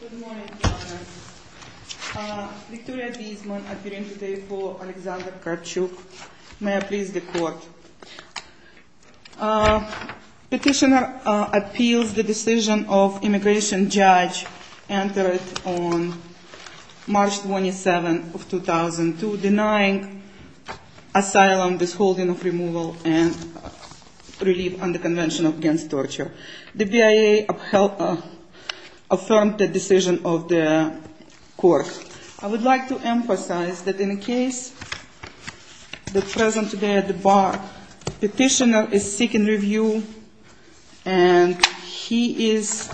Good morning, Your Honor. Victoria Bisman, appearing today for Alexander Kravchuk. May I please the court? Petitioner appeals the decision of immigration judge entered on March 27, 2002, denying asylum, disholding of removal, and relief under Convention Against Torture. The BIA affirmed the decision of the court. I would like to emphasize that in the case that present today at the bar, petitioner is seeking review, and he is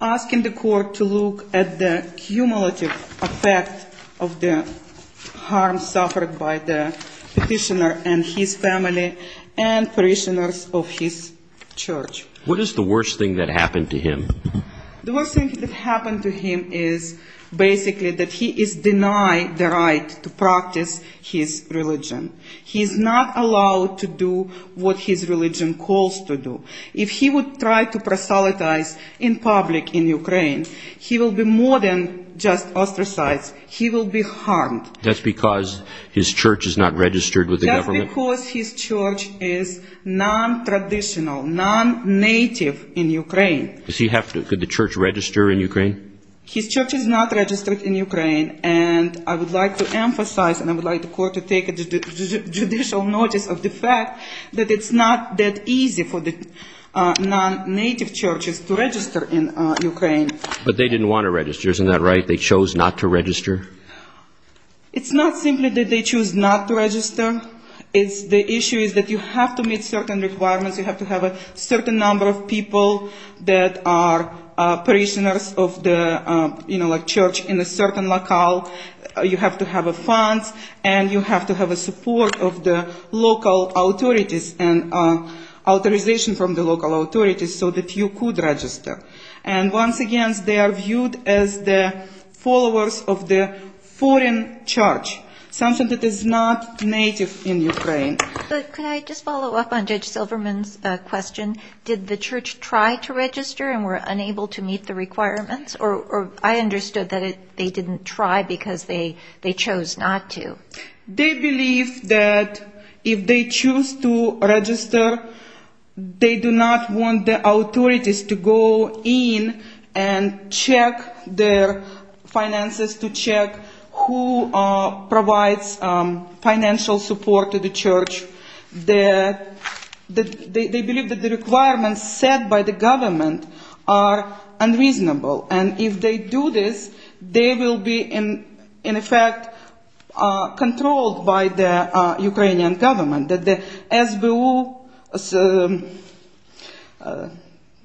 asking the court to look at the cumulative effect of the harm suffered by the petitioner and his family and parishioners of his church. What is the worst thing that happened to him? The worst thing that happened to him is basically that he is denied the right to practice his religion. He is not allowed to do what his religion calls to do. If he would try to proselytize in public in Ukraine, he will be more than just ostracized. He will be harmed. That's because his church is not registered with the government? That's because his church is non-traditional, non-native in Ukraine. Could the church register in Ukraine? His church is not registered in Ukraine, and I would like to emphasize, and I would like the court to take judicial notice of the fact that it's not that easy for the non-native churches to register in Ukraine. But they didn't want to register, isn't that right? They chose not to register? It's not simply that they chose not to register. The issue is that you have to meet certain requirements. You have to have a certain number of people that are parishioners of the church in a certain locale. You have to have funds, and you have to have the support of the local authorities and authorization from the local authorities so that you could register. And once again, they are viewed as the followers of the foreign church, something that is not native in Ukraine. But can I just follow up on Judge Silverman's question? Did the church try to register and were unable to meet the requirements? Or I understood that they didn't try because they chose not to. They believe that if they choose to register, they do not want the authorities to go in and check their finances, to check who provides financial support to the church. They believe that the requirements set by the government are unreasonable, and if they do this, they will be in effect controlled by the Ukrainian government. The SBU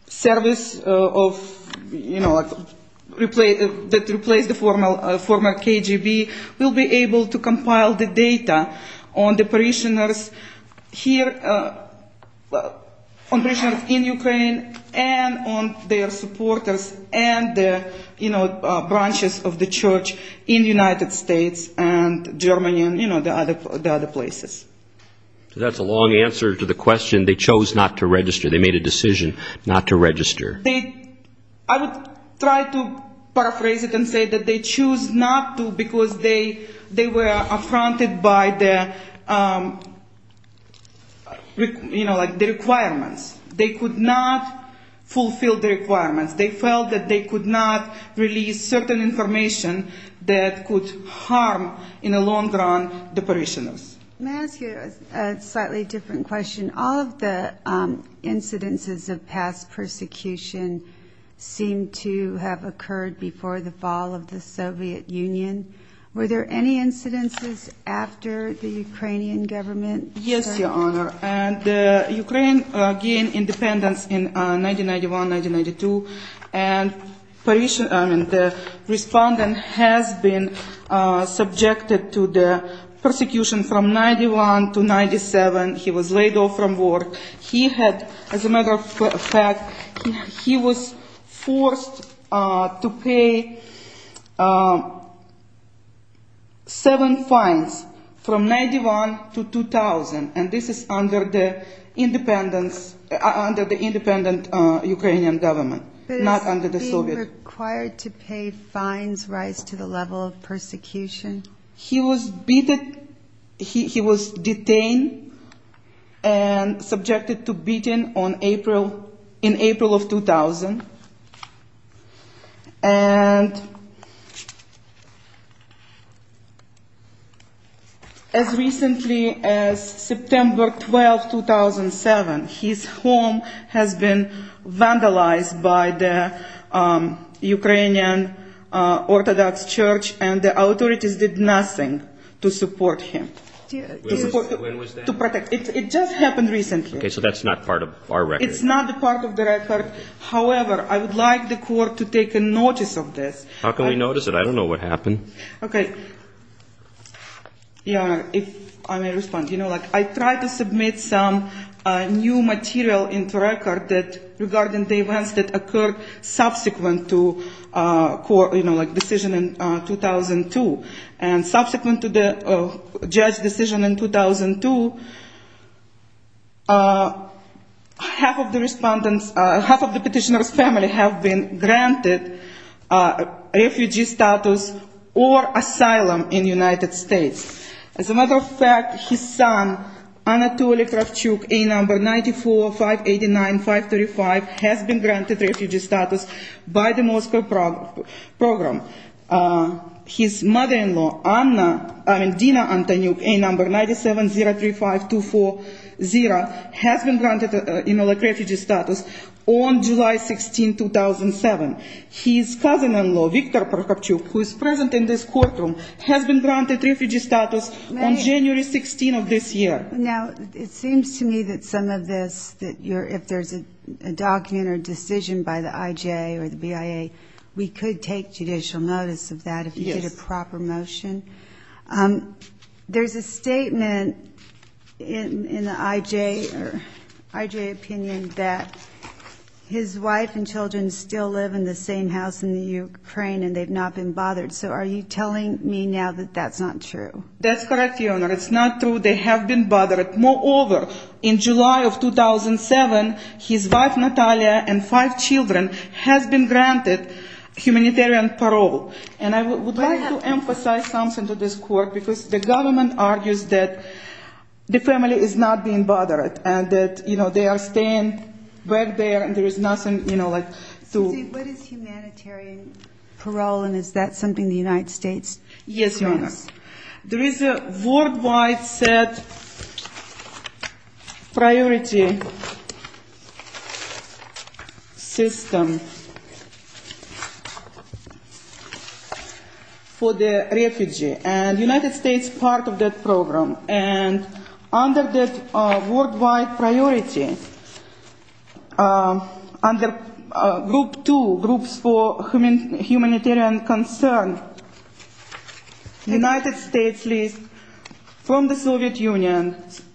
service that replaced the former KGB will be able to compile the data on the parishioners here, on parishioners in Ukraine, and on their supporters and the branches of the church in the United States and Germany and the other places. So that's a long answer to the question, they chose not to register, they made a decision not to register. I would try to paraphrase it and say that they chose not to because they were affronted by the requirements. They could not fulfill the requirements. They felt that they could not release certain information that could harm in the long run the parishioners. May I ask you a slightly different question? All of the incidences of past persecution seem to have occurred before the fall of the Soviet Union. Were there any incidences after the Ukrainian government? Yes, Your Honor. Ukraine gained independence in 1991-1992, and the respondent has been subjected to the persecution from 1991-1997. He was laid off from work. He had, as a matter of fact, he was forced to pay seven fines from 1991 to 2000, and this is under the independent Ukrainian government, not under the Soviet. But is being required to pay fines rise to the level of persecution? He was detained and subjected to beating in April of 2000, and as recently as September 12, 2007, his home has been vandalized by the Ukrainian Orthodox Church and the authorities did nothing to support him. When was that? It just happened recently. Okay, so that's not part of our record. It's not part of the record. However, I would like the court to take notice of this. How can we notice it? I don't know what happened. Okay, Your Honor, if I may respond. I tried to submit some new material into the record regarding the events that occurred subsequent to the decision in 2002. And subsequent to the judge's decision in 2002, half of the petitioner's family have been granted refugee status or asylum in the United States. As a matter of fact, his son, Anatoly Kravchuk, A number, 94-589-535, has been granted refugee status by the Moscow program. His mother-in-law, Dina Antonyuk, A number, 97-035-240, has been granted refugee status on July 16, 2007. His cousin-in-law, Victor Kravchuk, who is present in this courtroom, has been granted refugee status on January 16 of this year. Now, it seems to me that some of this, if there's a document or decision by the IJ or the BIA, we could take judicial notice of that if you get a proper motion. There's a statement in the IJ opinion that his wife and children still live in the same house in the Ukraine and they've not been bothered. So are you telling me now that that's not true? That's correct, Your Honor. It's not true. They have been bothered. Moreover, in July of 2007, his wife, Natalia, and five children have been granted humanitarian parole. And I would like to emphasize something to this court because the government argues that the family is not being bothered and that, you know, they are staying back there and there is nothing, you know, like to... There is a worldwide set priority system for the refugee and the United States is part of that program. And under that worldwide priority, under group two, groups for humanitarian concern, the United States leaves from the Soviet Union,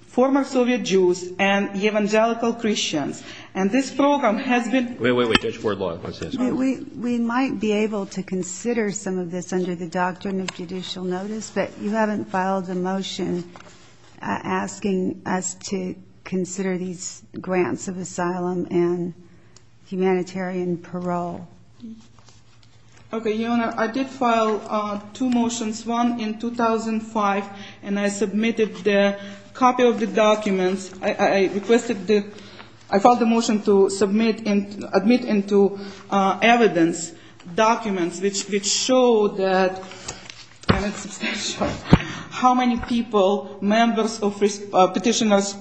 former Soviet Jews, and evangelical Christians. And this program has been... Wait, wait, wait. Judge Wardlaw. We might be able to consider some of this under the doctrine of judicial notice, but you haven't filed a motion asking us to consider these grants of asylum and humanitarian parole. Okay, Your Honor, I did file two motions, one in 2005, and I submitted the copy of the documents. I filed a motion to submit and admit into evidence documents which show that, and it's substantial, how many people, members of petitioners'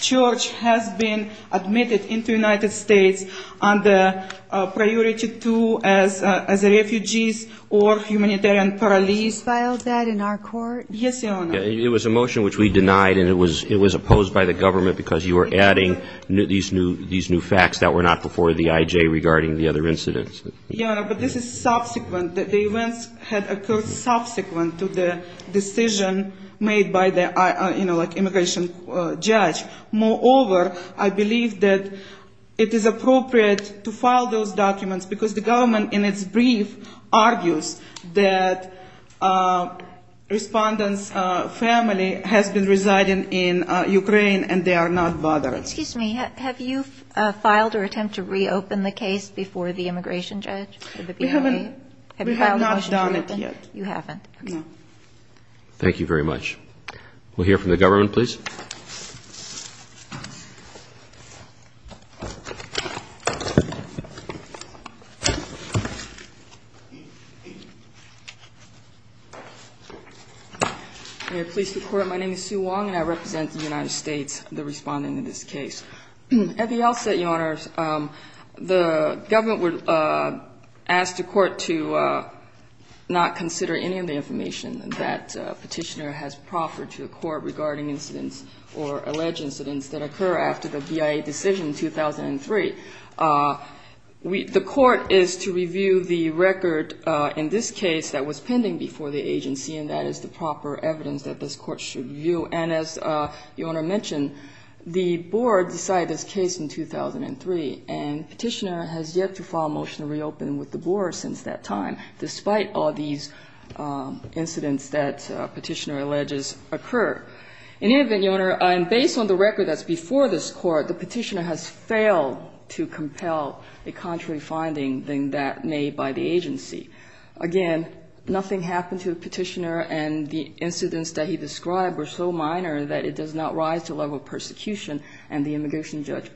church, has been admitted into the United States under priority two as refugees or humanitarian parolees. You filed that in our court? Yes, Your Honor. It was a motion which we denied and it was opposed by the government because you were adding these new facts that were not before the IJ regarding the other incidents. Your Honor, but this is subsequent. The events had occurred subsequent to the decision made by the, you know, like immigration judge. Moreover, I believe that it is appropriate to file those documents because the government in its brief argues that respondents' family has been residing in Ukraine and they are not veterans. Excuse me. Have you filed or attempted to reopen the case before the immigration judge? We haven't. Have you filed a motion to reopen? We have not done it yet. You haven't? No. Thank you very much. We'll hear from the government, please. May it please the Court. My name is Sue Wong and I represent the United States, the respondent in this case. At the outset, Your Honor, the government asked the court to not consider any of the information that Petitioner has proffered to the court regarding incidents or alleged incidents that occur after the BIA decision in 2003. The court is to review the record in this case that was pending before the agency and that is the proper evidence that this court should review. And as Your Honor mentioned, the board decided this case in 2003 and Petitioner has yet to file a motion to reopen with the board since that time, despite all these incidents that Petitioner alleges occur. In any event, Your Honor, based on the record that's before this court, the Petitioner has failed to compel a contrary finding made by the agency. Again, nothing happened to Petitioner and the incidents that he described were so minor that it does not rise to the level of persecution and the immigration judge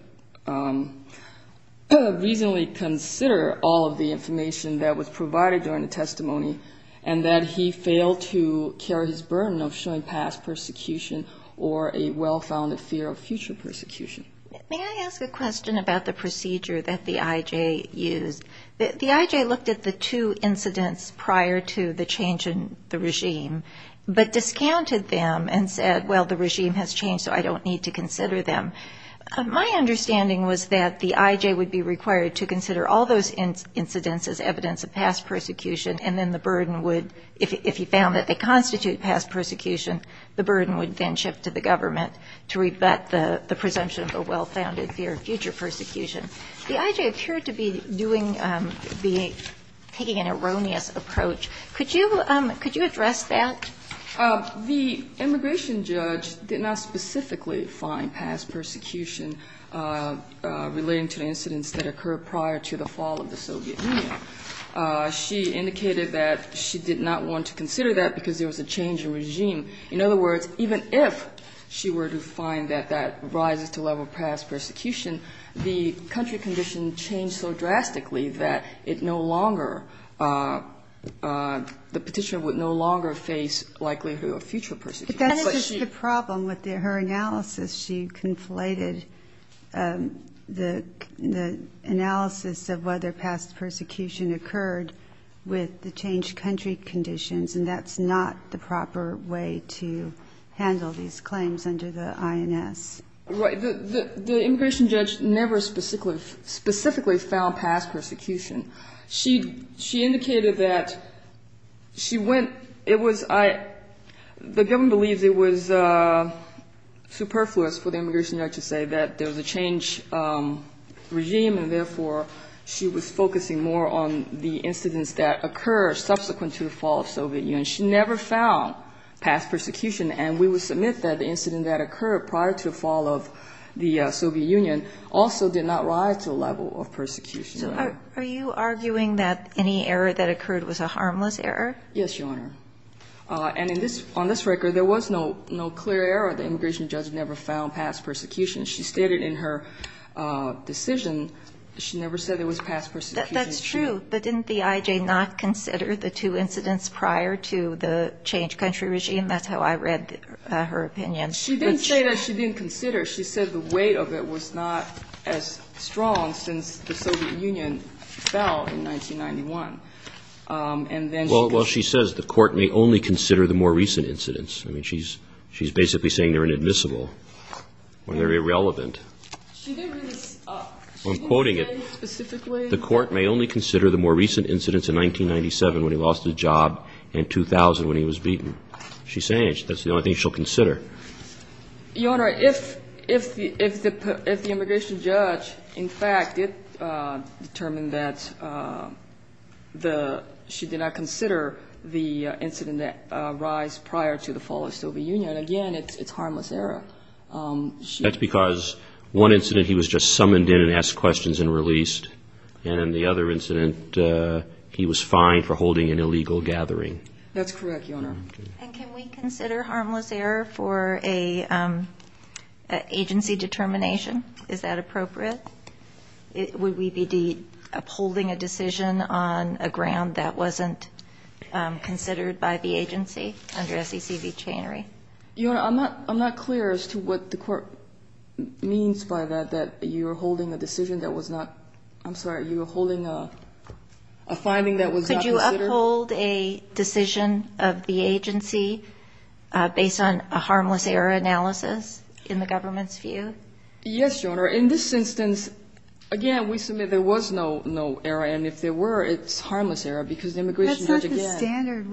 reasonably considered all of the information that was provided during the testimony and that he failed to carry his burden of showing past persecution or a well-founded fear of future persecution. May I ask a question about the procedure that the I.J. used? The I.J. looked at the two incidents prior to the change in the regime but discounted them and said, well, the regime has changed so I don't need to consider them. My understanding was that the I.J. would be required to consider all those incidents as evidence of past persecution and then the burden would, if he found that they constitute past persecution, the burden would then shift to the government to rebut the presumption of a well-founded fear of future persecution. The I.J. appeared to be doing, taking an erroneous approach. Could you address that? The immigration judge did not specifically find past persecution relating to the incidents that occurred prior to the fall of the Soviet Union. She indicated that she did not want to consider that because there was a change in regime. In other words, even if she were to find that that rises to the level of past persecution, the country condition changed so drastically that it no longer, the petitioner would no longer face likelihood of future persecution. But that is just the problem with her analysis. She conflated the analysis of whether past persecution occurred with the changed country conditions, and that's not the proper way to handle these claims under the INS. Right. The immigration judge never specifically found past persecution. She indicated that she went, it was, the government believes it was superfluous for the immigration judge to say that there was a changed regime and, therefore, she was focusing more on the incidents that occurred subsequent to the fall of the Soviet Union. She never found past persecution. And we would submit that the incident that occurred prior to the fall of the Soviet Union also did not rise to the level of persecution. So are you arguing that any error that occurred was a harmless error? Yes, Your Honor. And in this, on this record, there was no clear error. The immigration judge never found past persecution. She stated in her decision she never said there was past persecution. That's true. But didn't the I.J. not consider the two incidents prior to the changed country regime? That's how I read her opinion. She didn't say that she didn't consider. She said the weight of it was not as strong since the Soviet Union fell in 1991. And then she goes to the court. Well, she says the court may only consider the more recent incidents. I mean, she's basically saying they're inadmissible or they're irrelevant. She didn't really say. I'm quoting it. The court may only consider the more recent incidents in 1997 when he lost his job and 2000 when he was beaten. She's saying that's the only thing she'll consider. Your Honor, if the immigration judge, in fact, did determine that she did not consider the incident that arised prior to the fall of the Soviet Union, again, it's harmless error. That's because one incident he was just summoned in and asked questions and released, and in the other incident he was fined for holding an illegal gathering. That's correct, Your Honor. And can we consider harmless error for an agency determination? Is that appropriate? Would we be upholding a decision on a ground that wasn't considered by the agency under SEC v. Chanery? Your Honor, I'm not clear as to what the court means by that, that you're holding a decision that was not – I'm sorry. You're holding a finding that was not considered? Could you uphold a decision of the agency based on a harmless error analysis in the government's view? Yes, Your Honor. In this instance, again, we submit there was no error, and if there were, it's harmless error because the immigration judge again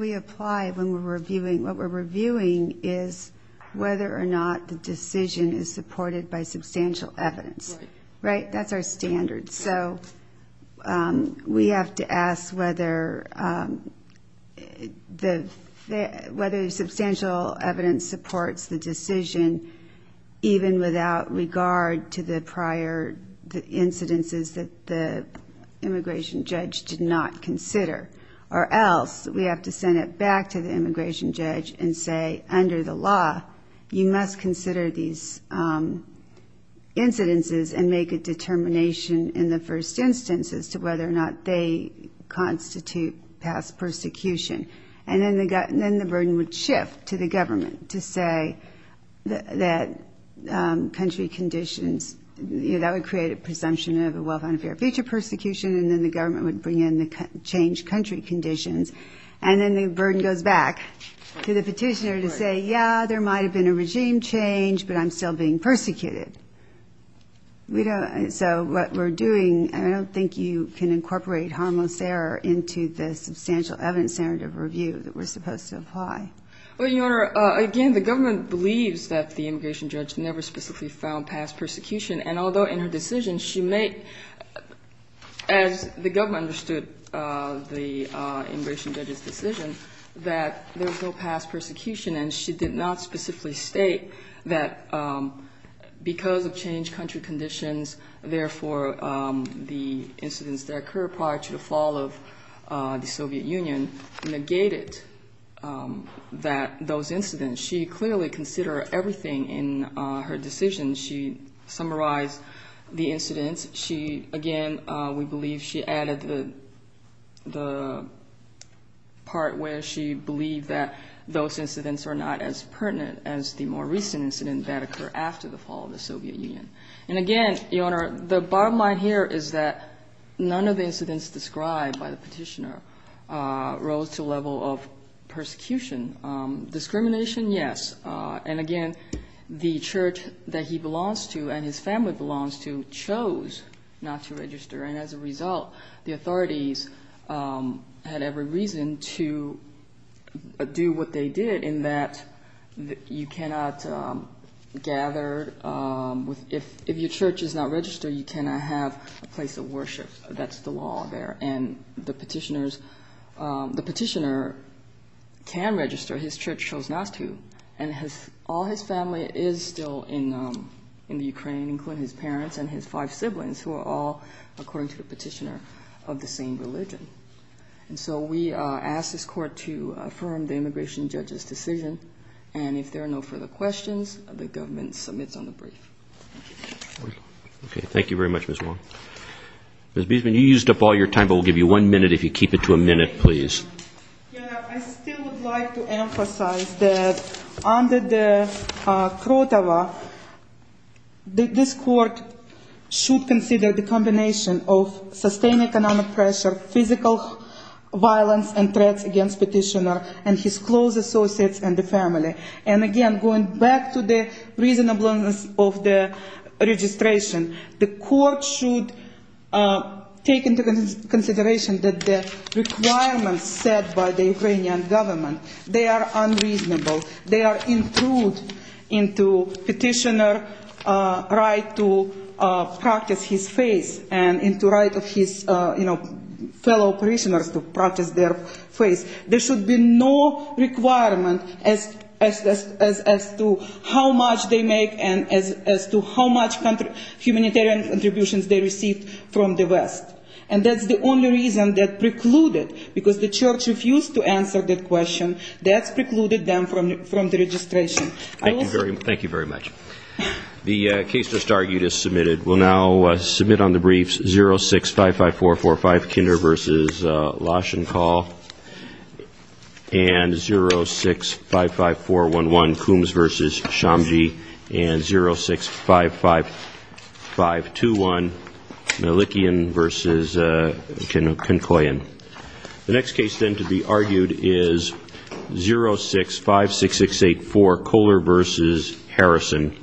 – whether or not the decision is supported by substantial evidence. Right. Right, that's our standard. So we have to ask whether substantial evidence supports the decision even without regard to the prior incidences that the immigration judge did not consider, or else we have to send it back to the immigration judge and say, under the law, you must consider these incidences and make a determination in the first instance as to whether or not they constitute past persecution. And then the burden would shift to the government to say that country conditions – that would create a presumption of a well-founded fear of future persecution, and then the government would bring in the changed country conditions, and then the burden goes back to the petitioner to say, yeah, there might have been a regime change, but I'm still being persecuted. So what we're doing – I don't think you can incorporate harmless error into the substantial evidence standard of review that we're supposed to apply. Well, Your Honor, again, the government believes that the immigration judge never specifically found past persecution, and although in her decision she made, as the government understood the immigration judge's decision, that there was no past persecution and she did not specifically state that because of changed country conditions, therefore the incidents that occurred prior to the fall of the Soviet Union negated those incidents. She clearly considered everything in her decision. She summarized the incidents. She – again, we believe she added the part where she believed that those incidents are not as pertinent as the more recent incident that occurred after the fall of the Soviet Union. And again, Your Honor, the bottom line here is that none of the incidents described by the petitioner rose to a level of persecution. Discrimination, yes. And again, the church that he belongs to and his family belongs to chose not to register. And as a result, the authorities had every reason to do what they did in that you cannot gather – if your church is not registered, you cannot have a place of worship. That's the law there. And the petitioners – the petitioner can register. His church chose not to. And all his family is still in the Ukraine, including his parents and his five siblings, who are all, according to the petitioner, of the same religion. And so we ask this Court to affirm the immigration judge's decision. And if there are no further questions, the government submits on the brief. Okay. Thank you very much, Ms. Wong. Ms. Biesman, you used up all your time, but we'll give you one minute if you keep it to a minute, please. Your Honor, I still would like to emphasize that under the Krotava, this Court should consider the combination of sustained economic pressure, physical violence and threats against petitioner and his close associates and the family. And again, going back to the reasonableness of the registration, the Court should take into consideration that the requirements set by the Ukrainian government, they are unreasonable. They are intrude into petitioner's right to practice his faith and into right of his, you know, fellow parishioners to practice their faith. There should be no requirement as to how much they make and as to how much humanitarian contributions they receive from the West. And that's the only reason that precluded, because the Church refused to answer that question, that's precluded them from the registration. Thank you very much. The case just argued is submitted. We'll now submit on the briefs 0655445, Kinder v. Lashenkal, and 0655411, Coombs v. Shamji, and 0655521, Malikian v. Conkoyan. The next case then to be argued is 0656684, Kohler v. Harrison.